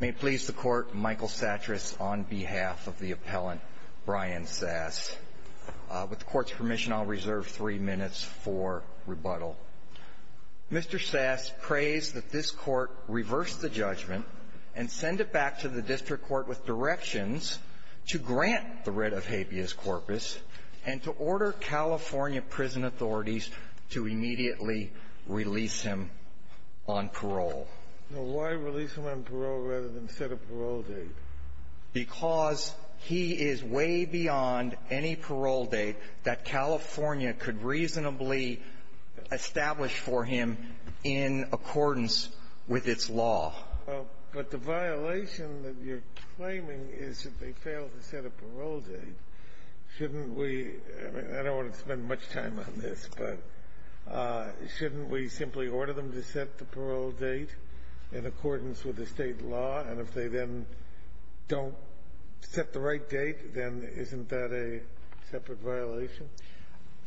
May it please the Court, Michael Sattras on behalf of the Appellant Brian Sass. With the Court's permission, I'll reserve three minutes for rebuttal. Mr. Sass prays that this Court reverse the judgment and send it back to the District Court with directions to grant the writ of habeas corpus and to order California prison authorities to immediately release him on parole. Now, why release him on parole rather than set a parole date? Because he is way beyond any parole date that California could reasonably establish for him in accordance with its law. But the violation that you're claiming is that they failed to set a parole date. Shouldn't we — I mean, I don't want to spend much time on this, but shouldn't we simply order them to set the parole date in accordance with the State law? And if they then don't set the right date, then isn't that a separate violation?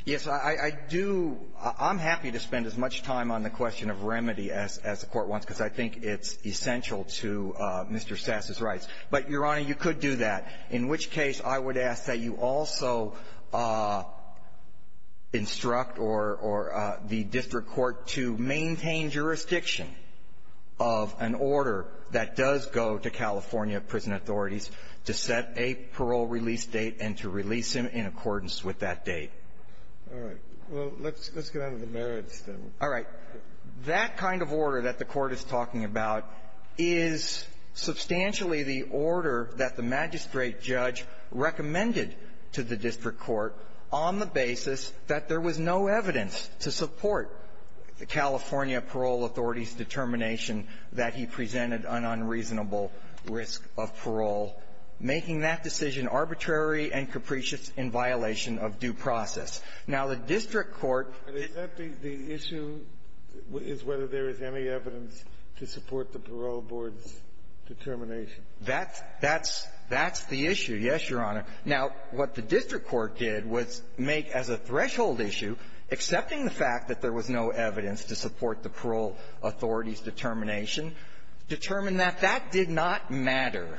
Yes. I do — I'm happy to spend as much time on the question of remedy as the Court wants, because I think it's essential to Mr. Sass's rights. But, Your Honor, you could do that, in which case I would ask that you also instruct or the District Court to maintain jurisdiction of an order that does go to California prison authorities to set a parole release date and to release him in accordance with that date. All right. Well, let's get out of the merits, then. All right. That kind of order that the Court is talking about is substantially the order that the magistrate judge recommended to the District Court on the basis that there was no evidence to support the California parole authority's determination that he presented an unreasonable risk of parole, making that decision arbitrary and capricious in violation of due process. Now, the District Court — But is that the issue, is whether there is any evidence to support the parole board's determination? That's — that's — that's the issue, yes, Your Honor. Now, what the District Court did was make as a threshold issue, accepting the fact that there was no evidence to support the parole authority's determination, determine that that did not matter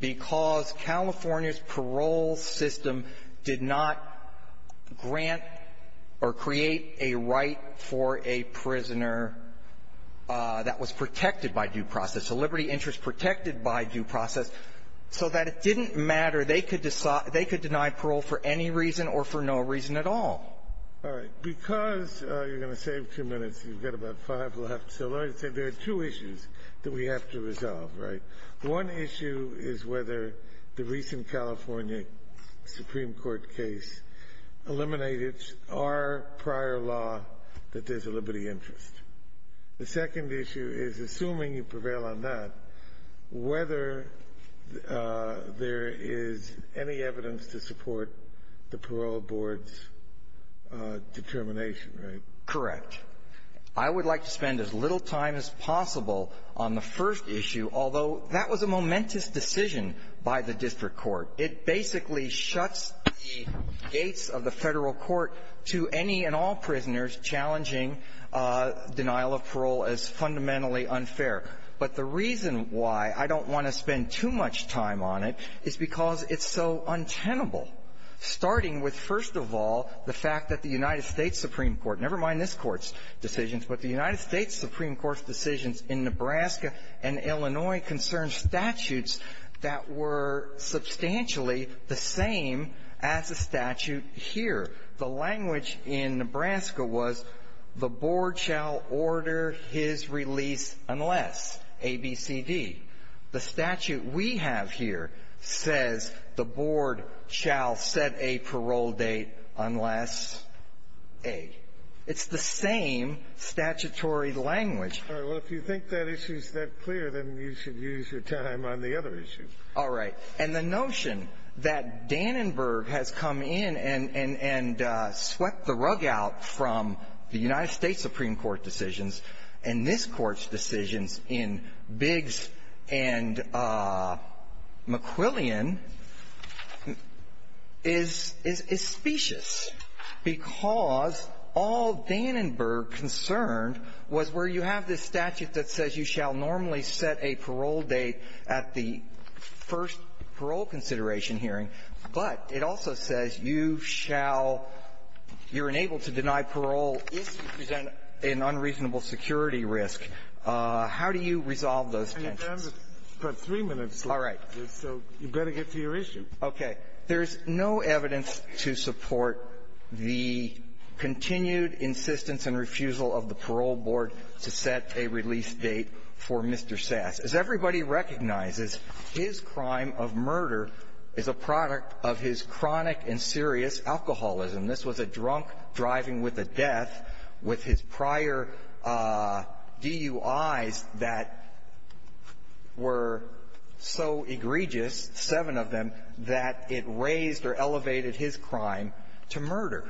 because California's parole system did not grant or create a right for a prisoner that was protected by due process, so liberty interest protected by due process, so that it didn't matter. They could — they could deny parole for any reason or for no reason at all. All right. Because — you're going to save two minutes. You've got about five left. So let me say there are two issues that we have to resolve, right? One issue is whether the recent California Supreme Court case eliminated our prior law that there's a liberty interest. The second issue is, assuming you prevail on that, whether there is any evidence to support the parole board's determination, right? Correct. I would like to spend as little time as possible on the first issue, although that was a momentous decision by the District Court. It basically shuts the gates of the Federal court to any and all prisoners challenging denial of parole as fundamentally unfair. But the reason why I don't want to spend too much time on it is because it's so untenable, starting with, first of all, the fact that the United States Supreme Court — never mind this Court's decisions, but the United States Supreme Court's decisions in Nebraska and Illinois concerned statutes that were substantially the same as the unless, A, B, C, D. The statute we have here says the board shall set a parole date unless A. It's the same statutory language. All right. Well, if you think that issue is that clear, then you should use your time on the other issue. All right. And the notion that Dannenberg has come in and — and swept the rug out from the board's decisions in Biggs and McQuillian is — is specious, because all Dannenberg concerned was where you have this statute that says you shall normally set a parole date at the first parole consideration hearing, but it also says you shall — you're unable to deny parole if you present an unreasonable security risk. How do you resolve those tensions? And you've gone for three minutes, so you've got to get to your issue. Okay. There's no evidence to support the continued insistence and refusal of the parole board to set a release date for Mr. Sass. As everybody recognizes, his crime of murder is a product of his chronic and serious alcoholism. This was a drunk driving with a death with his prior DUIs that were so egregious, seven of them, that it raised or elevated his crime to murder.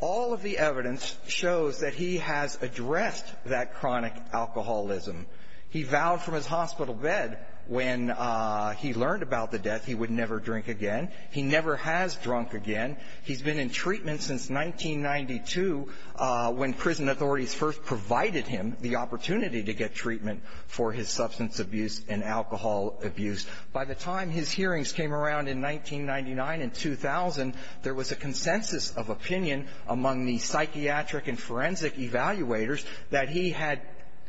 All of the evidence shows that he has addressed that chronic alcoholism. He vowed from his hospital bed when he learned about the death he would never drink again. He never has drunk again. He's been in treatment since 1992, when prison authorities first provided him the opportunity to get treatment for his substance abuse and alcohol abuse. By the time his hearings came around in 1999 and 2000, there was a consensus of opinion among the psychiatric and forensic evaluators that he had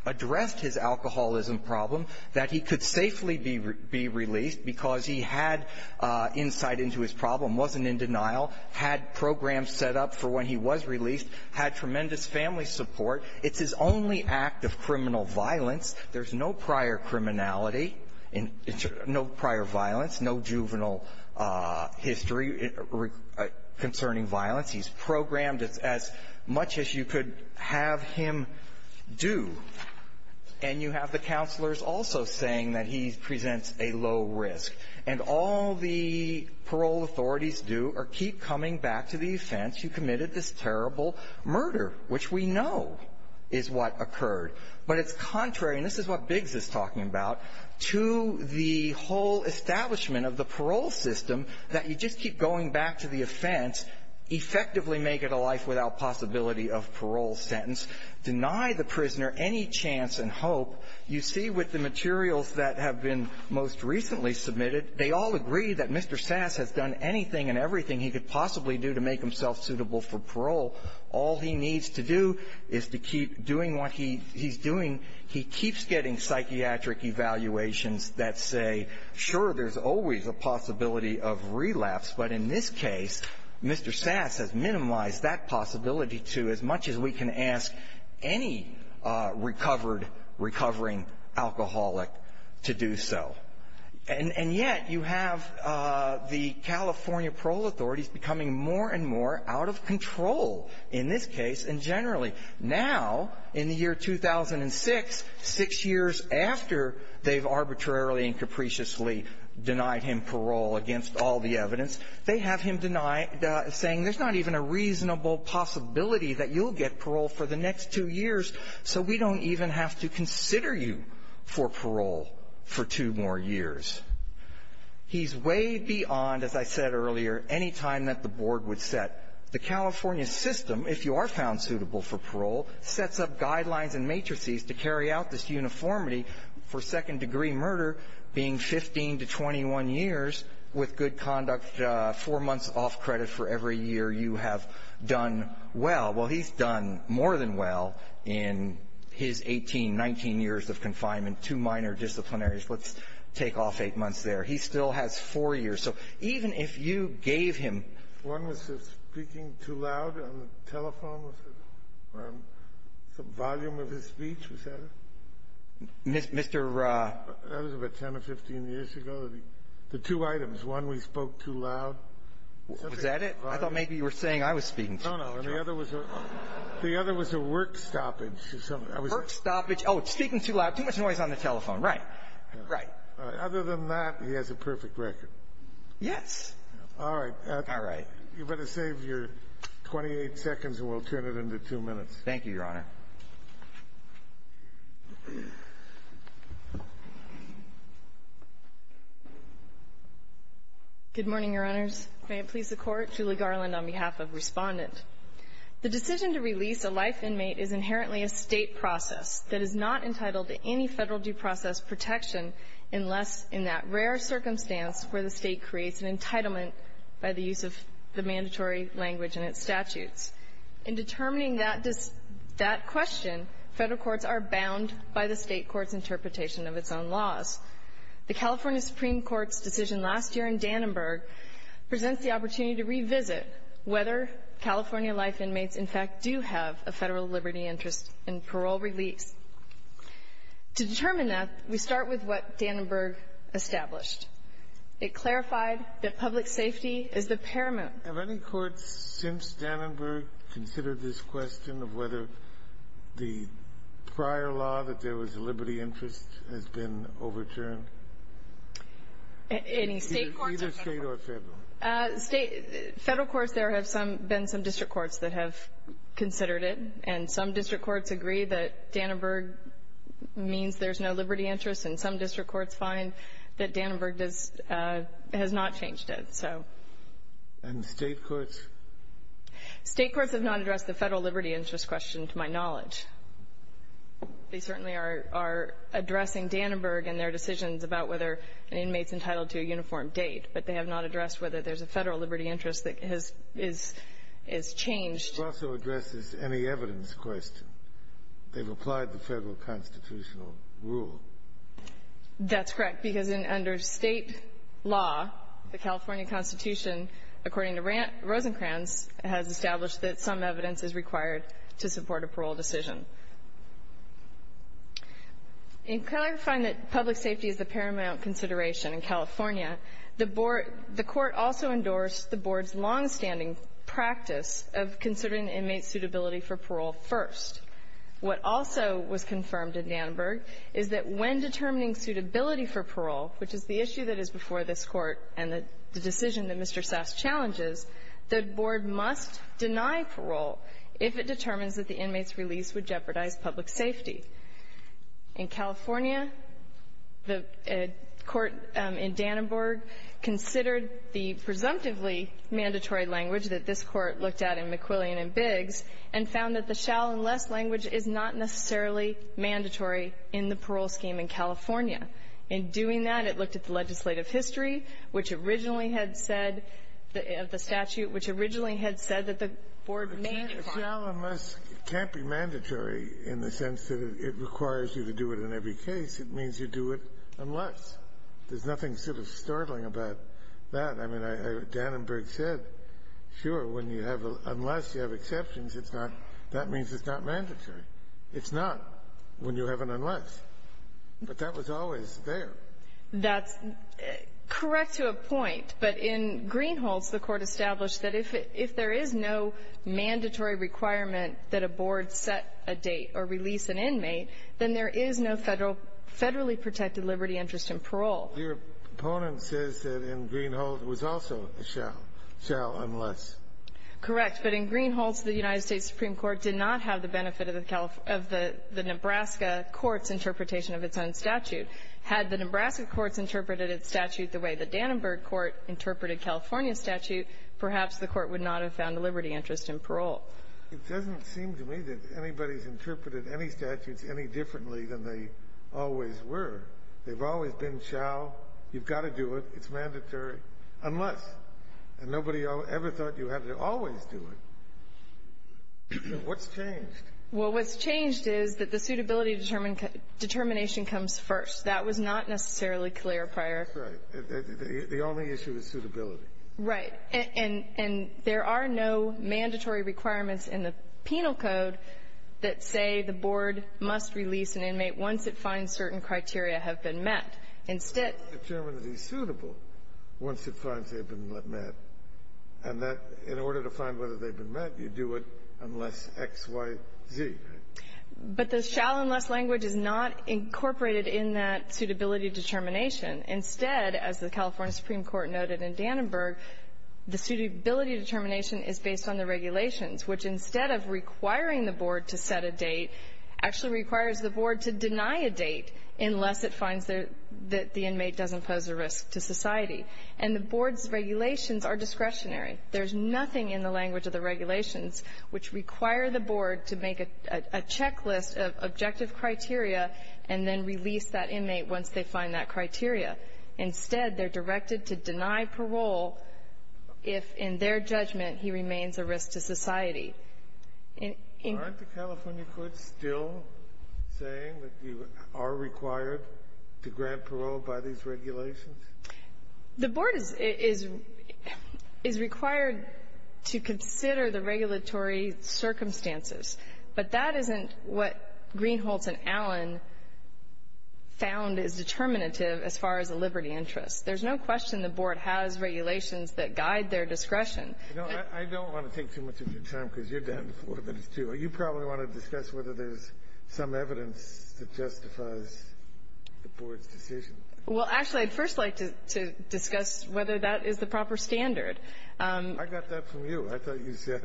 addressed his alcoholism problem, that he could safely be released because he had insight into his problem, wasn't in denial, had programs set up for when he was released, had tremendous family support. It's his only act of criminal violence. There's no prior criminality, no prior violence, no juvenile history concerning violence. He's programmed as much as you could have him do. And you have the counselors also saying that he presents a low risk. And all the parole authorities do are keep coming back to the offense. You committed this terrible murder, which we know is what occurred. But it's contrary, and this is what Biggs is talking about, to the whole establishment of the parole system, that you just keep going back to the offense, effectively make it a life-without-possibility-of-parole sentence, deny the prisoner any chance and hope. You see with the materials that have been most recently submitted, they all agree that Mr. Sass has done anything and everything he could possibly do to make himself suitable for parole. All he needs to do is to keep doing what he's doing. He keeps getting psychiatric evaluations that say, sure, there's always a possibility of relapse. But in this case, Mr. Sass has minimized that possibility to as much as we can ask any recovered, recovering alcoholic to do so. And yet you have the California parole authorities becoming more and more out of control in this case and generally. Now, in the year 2006, six years after they've arbitrarily and capriciously denied him parole against all the evidence, they have him denied, saying there's not even a reasonable possibility that you'll get parole for the next two years, so we don't even have to consider you for parole for two more years. He's way beyond, as I said earlier, any time that the Board would set. The California system, if you are found suitable for parole, sets up guidelines and matrices to carry out this uniformity for second-degree murder being 15 to 21 years with good conduct, four months off credit for every year you have done well. Well, he's done more than well in his 18, 19 years of confinement, two minor disciplinaries. Let's take off eight months there. He still has four years. So even if you gave him ---- Kennedy, speaking too loud on the telephone with the volume of his speech, was that it? Mr. ---- That was about 10 or 15 years ago, the two items. One, we spoke too loud. Was that it? I thought maybe you were saying I was speaking too loud. No, no. The other was a work stoppage. Work stoppage. Oh, speaking too loud, too much noise on the telephone. Right. Right. Other than that, he has a perfect record. Yes. All right. All right. You better save your 28 seconds, and we'll turn it into two minutes. Thank you, Your Honor. Good morning, Your Honors. May it please the Court. Julie Garland on behalf of Respondent. The decision to release a life inmate is inherently a State process that is not entitled to any Federal due process protection unless in that rare circumstance where the State creates an entitlement by the use of the mandatory language in its statutes. In determining that question, Federal courts are bound by the State court's interpretation of its own laws. The California Supreme Court's decision last year in Dannenberg presents the opportunity to revisit whether California life inmates, in fact, do have a Federal liberty interest in parole release. To determine that, we start with what Dannenberg established. It clarified that public safety is the paramount. Have any courts since Dannenberg considered this question of whether the prior law that there was a liberty interest has been overturned? Any State courts or Federal courts? Either State or Federal. Federal courts, there have been some district courts that have considered it, and some district courts agree that Dannenberg means there's no liberty interest, and some district courts find that Dannenberg has not changed it, so. And State courts? State courts have not addressed the Federal liberty interest question, to my knowledge. They certainly are addressing Dannenberg and their decisions about whether an inmate is entitled to a uniform date, but they have not addressed whether there's a Federal liberty interest that has been changed. It also addresses any evidence question. They've applied the Federal constitutional rule. That's correct, because under State law, the California Constitution, according to Rosencrantz, has established that some evidence is required to support a parole decision. In clarifying that public safety is the paramount consideration in California, the board the Court also endorsed the board's longstanding practice of considering inmates' suitability for parole first. What also was confirmed in Dannenberg is that when determining suitability for parole, which is the issue that is before this Court and the decision that Mr. Sass challenges, the board must deny parole if it determines that the inmate's release would jeopardize public safety. In California, the Court in Dannenberg considered the presumptively mandatory language that this Court looked at in McQuillian and Biggs and found that the shall unless language is not necessarily mandatory in the parole scheme in California. In doing that, it looked at the legislative history, which originally had said, of the statute, which originally had said that the board may require it. Kennedy, it can't be mandatory in the sense that it requires you to do it in every case. It means you do it unless. There's nothing sort of startling about that. I mean, Dannenberg said, sure, when you have a unless, you have exceptions. That means it's not mandatory. It's not when you have an unless, but that was always there. That's correct to a point, but in Greenhalghs, the Court established that if there is no mandatory requirement that a board set a date or release an inmate, then there is no federally protected liberty interest in parole. Your opponent says that in Greenhalghs was also a shall, shall unless. Correct. But in Greenhalghs, the United States Supreme Court did not have the benefit of the Nebraska court's interpretation of its own statute. Had the Nebraska courts interpreted its statute the way the Dannenberg court interpreted California's statute, perhaps the Court would not have found a liberty interest in parole. It doesn't seem to me that anybody's interpreted any statutes any differently than they always were. They've always been shall. You've got to do it. It's mandatory unless. And nobody ever thought you had to always do it. What's changed? Well, what's changed is that the suitability determination comes first. That was not necessarily clear prior. Right. The only issue is suitability. Right. And there are no mandatory requirements in the penal code that say the board must release an inmate once it finds certain criteria have been met. Instead the chairman of the suitable once it finds they've been met and that in order to find whether they've been met, you do it unless X, Y, Z. But the shall unless language is not incorporated in that suitability determination. Instead, as the California Supreme Court noted in Dannenberg, the suitability determination is based on the regulations, which instead of requiring the board to set a date, actually requires the board to deny a date unless it finds the date that the inmate doesn't pose a risk to society. And the board's regulations are discretionary. There's nothing in the language of the regulations which require the board to make a checklist of objective criteria and then release that inmate once they find that criteria. Instead, they're directed to deny parole if in their judgment he remains a risk to society. Aren't the California courts still saying that you are required to grant parole by these regulations? The board is required to consider the regulatory circumstances. But that isn't what Greenholz and Allen found is determinative as far as the liberty interest. There's no question the board has regulations that guide their discretion. No, I don't want to take too much of your time because you're down to four minutes, too. You probably want to discuss whether there's some evidence that justifies the board's decision. Well, actually, I'd first like to discuss whether that is the proper standard. I got that from you. I thought you said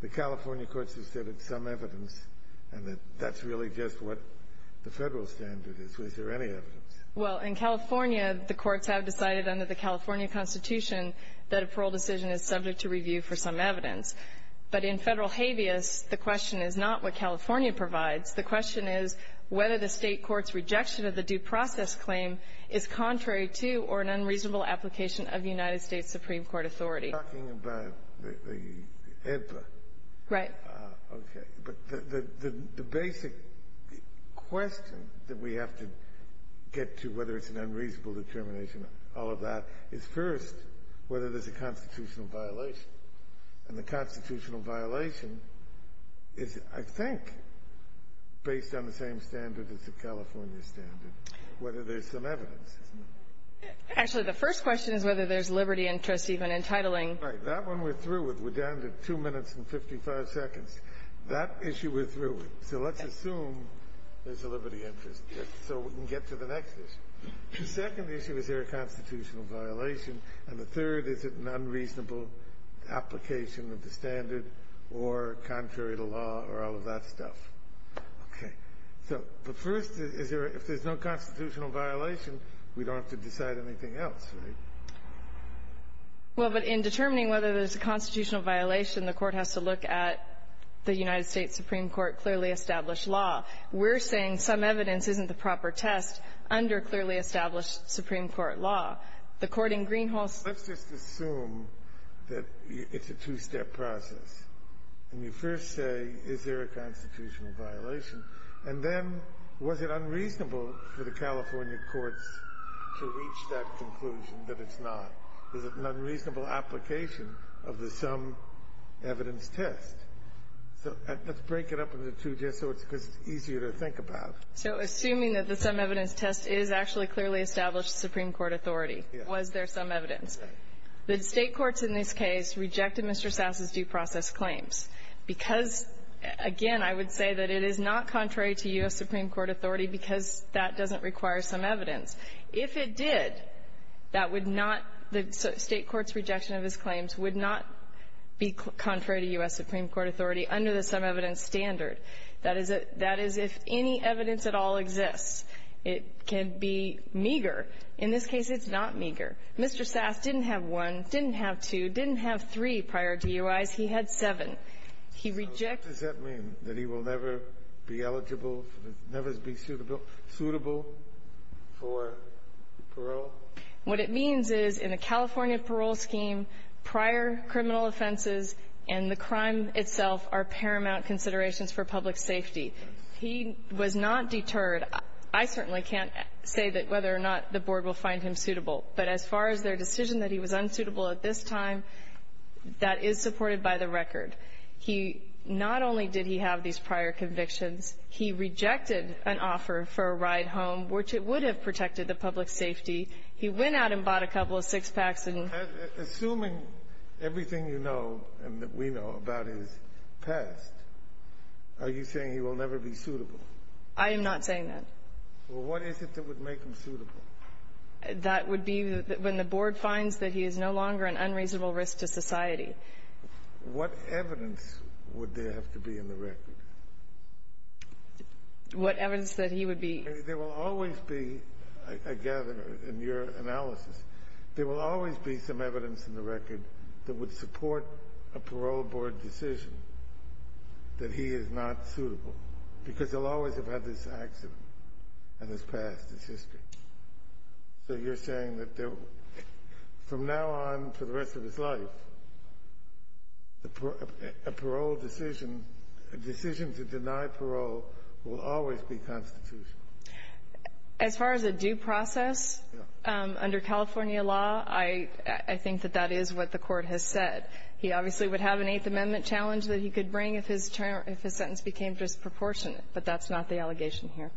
the California courts have said it's some evidence and that that's really just what the Federal standard is. Was there any evidence? Well, in California, the courts have decided under the California Constitution that a parole decision is subject to review for some evidence. But in Federal habeas, the question is not what California provides. The question is whether the State court's rejection of the due process claim is contrary to or an unreasonable application of United States Supreme Court authority. You're talking about the AEDPA. Right. Okay. But the basic question that we have to get to whether it's an unreasonable determination, all of that, is first whether there's a constitutional violation. And the constitutional violation is, I think, based on the same standard as the California standard, whether there's some evidence. Actually, the first question is whether there's liberty interest even in titling. Right. That one we're through with. We're down to two minutes and 55 seconds. That issue we're through with. So let's assume there's a liberty interest, so we can get to the next issue. The second issue, is there a constitutional violation? And the third, is it an unreasonable application of the standard or contrary to law or all of that stuff? Okay. So the first is, if there's no constitutional violation, we don't have to decide anything else, right? Well, but in determining whether there's a constitutional violation, the Court has to look at the United States Supreme Court clearly established law. We're saying some evidence isn't the proper test under clearly established Supreme Court law. The Court in Greenhalgh's law. Let's just assume that it's a two-step process, and you first say, is there a constitutional violation? And then, was it unreasonable for the California courts to reach that conclusion that it's not? Was it an unreasonable application of the some-evidence test? So let's break it up into two just so it's easier to think about. So assuming that the some-evidence test is actually clearly established Supreme Court authority, was there some evidence? The State courts in this case rejected Mr. Sass's due process claims, because, again, I would say that it is not contrary to U.S. Supreme Court authority, because that doesn't require some evidence. If it did, that would not the State courts' rejection of his claims would not be contrary to U.S. Supreme Court authority under the some-evidence standard. That is if any evidence at all exists. It can be meager. In this case, it's not meager. Mr. Sass didn't have one, didn't have two, didn't have three prior DUIs. He had seven. He rejected them. Scalia, does that mean that he will never be eligible, never be suitable for parole? What it means is, in the California parole scheme, prior criminal offenses and the crime itself are paramount considerations for public safety. He was not deterred. I certainly can't say that whether or not the Board will find him suitable. But as far as their decision that he was unsuitable at this time, that is supported by the record. He not only did he have these prior convictions, he rejected an offer for a ride home, which it would have protected the public safety. He went out and bought a couple of six-packs and — So, assuming everything you know and that we know about his past, are you saying he will never be suitable? I am not saying that. Well, what is it that would make him suitable? That would be when the Board finds that he is no longer an unreasonable risk to society. What evidence would there have to be in the record? What evidence that he would be — There will always be, I gather in your analysis, there will always be some evidence in the record that would support a parole board decision that he is not suitable, because they'll always have had this accident in his past, his history. So you're saying that there will — from now on for the rest of his life, a parole decision — a decision to deny parole will always be constitutional. As far as a due process, under California law, I think that that is what the Court has said. He obviously would have an Eighth Amendment challenge that he could bring if his sentence became disproportionate, but that's not the allegation here.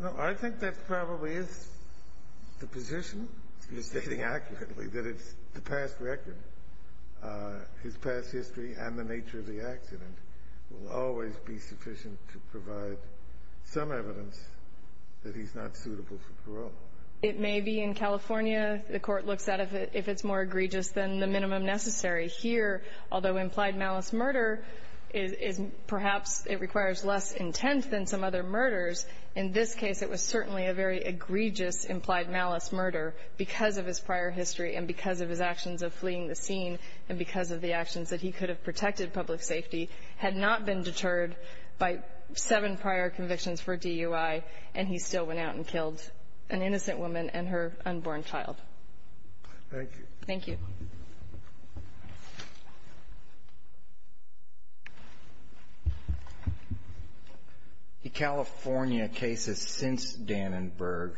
Well, I think that probably is the position. You're stating accurately that it's the past record, his past history, and the nature of the accident will always be sufficient to provide some evidence that he's not suitable for parole. It may be in California. The Court looks at it if it's more egregious than the minimum necessary. Here, although implied malice murder is — perhaps it requires less intent than some other murders, in this case it was certainly a very egregious implied malice murder because of his prior history and because of his actions of fleeing the scene and because of the actions that he could have protected public safety had not been deterred by seven prior convictions for DUI, and he still went out and killed an innocent woman and her unborn child. Thank you. Thank you. The California cases since Dannenberg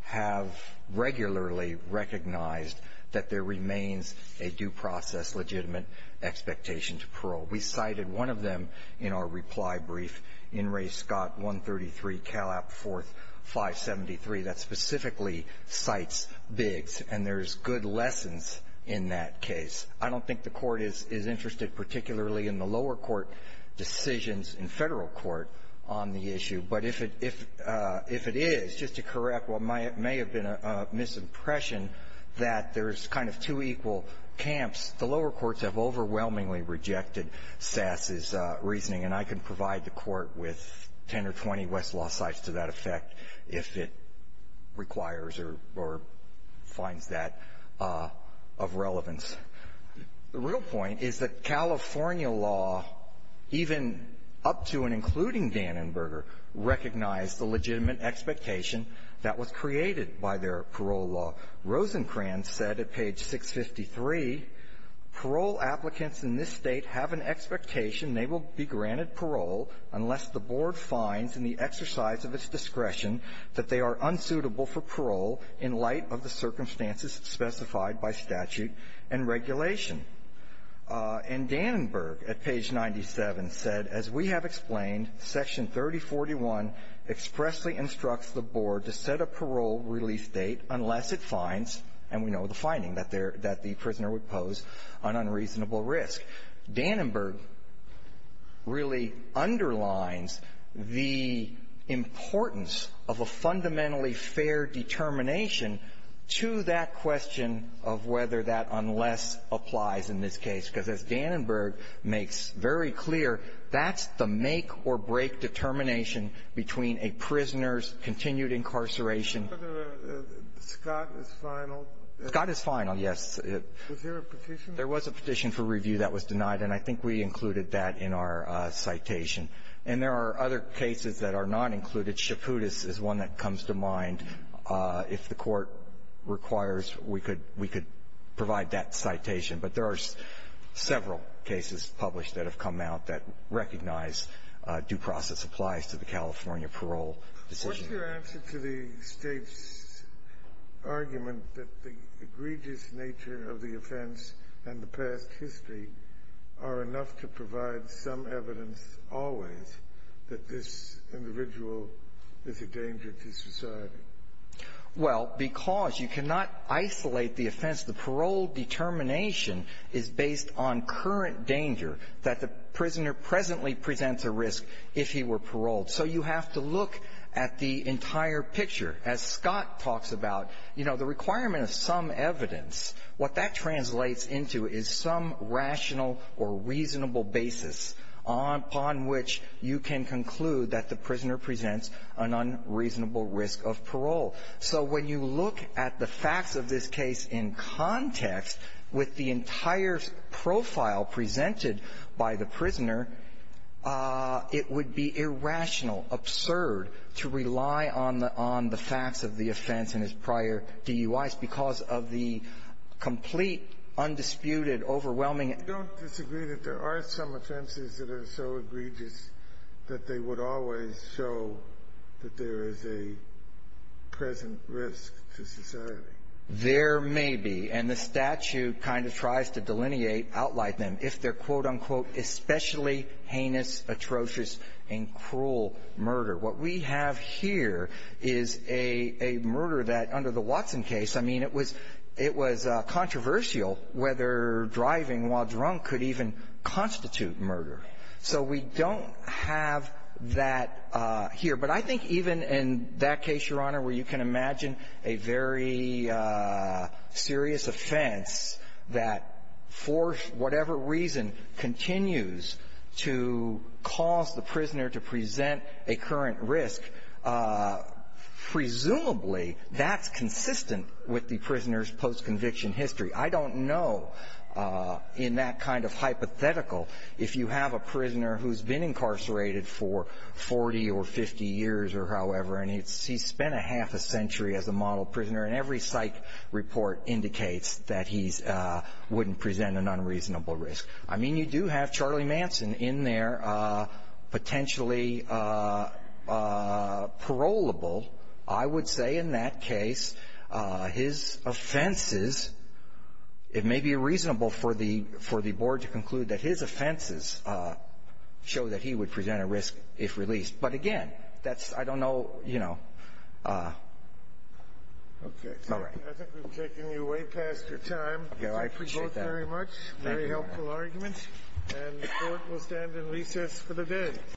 have regularly recognized that there remains a due process legitimate expectation to parole. We cited one of them in our reply brief, In re Scott 133, Cal App 4th 573, that specifically cites Biggs, and there's good lessons in that case. I don't think the Court is interested particularly in the lower court decisions in Federal court on the issue, but if it is, just to correct what may have been a misimpression, that there's kind of two equal camps. The lower courts have overwhelmingly rejected Sass's reasoning, and I can provide the Court with 10 or 20 Westlaw sites to that effect if it requires or finds that of relevance. The real point is that California law, even up to and including Dannenberger, recognized the legitimate expectation that was created by their parole law. Rosencrantz said at page 653, parole applicants in this State have an expectation they will be granted parole unless the board finds in the exercise of its discretion that they are unsuitable for parole in light of the circumstances specified by statute and regulation. And Dannenberg at page 97 said, as we have explained, Section 3041 expressly instructs the board to set a parole release date unless it finds, and we know the finding, that the prisoner would pose an unreasonable risk. Dannenberg really underlines the importance of a fundamentally fair determination to that question of whether that unless applies in this case, because as Dannenberg makes very clear, that's the make-or-break determination between a prisoner's continued incarceration of a prisoner. Sotomayor, Scott is final. Scott is final, yes. Was there a petition? There was a petition for review that was denied, and I think we included that in our citation. And there are other cases that are not included. Chaputis is one that comes to mind. If the Court requires, we could we could provide that citation. But there are several cases published that have come out that recognize due process applies to the California parole decision. What's your answer to the State's argument that the egregious nature of the offense and the past history are enough to provide some evidence always that this individual is a danger to society? Well, because you cannot isolate the offense. The parole determination is based on current danger that the prisoner presently presents a risk if he were paroled. So you have to look at the entire picture. As Scott talks about, you know, the requirement of some evidence, what that translates into is some rational or reasonable basis upon which you can conclude that the prisoner presents an unreasonable risk of parole. So when you look at the facts of this case in context, with the entire profile presented by the prisoner, it would be irrational, absurd to rely on the facts of the offense and its prior DUIs because of the complete, undisputed, overwhelming You don't disagree that there are some offenses that are so egregious that they would always show that there is a present risk to society? There may be. And the statute kind of tries to delineate, outline them if they're, quote, unquote, especially heinous, atrocious, and cruel murder. What we have here is a murder that, under the Watson case, I mean, it was controversial whether driving while drunk could even constitute murder. So we don't have that here. But I think even in that case, Your Honor, where you can imagine a very serious offense that for whatever reason continues to cause the prisoner to present a current risk, presumably that's consistent with the prisoner's post-conviction history. I don't know, in that kind of hypothetical, if you have a prisoner who's been incarcerated for 40 or 50 years or however, and he spent a half a century as a model prisoner, and every psych report indicates that he wouldn't present an unreasonable risk. I mean, you do have Charlie Manson in there, potentially parolable. I would say in that case, his offenses, it may be reasonable for the board to conclude that his offenses show that he would present a risk if released. But again, that's, I don't know, you know, it's not right. I think we've taken you way past your time. I appreciate that. Thank you both very much. Very helpful arguments. And the Court will stand in recess for the day.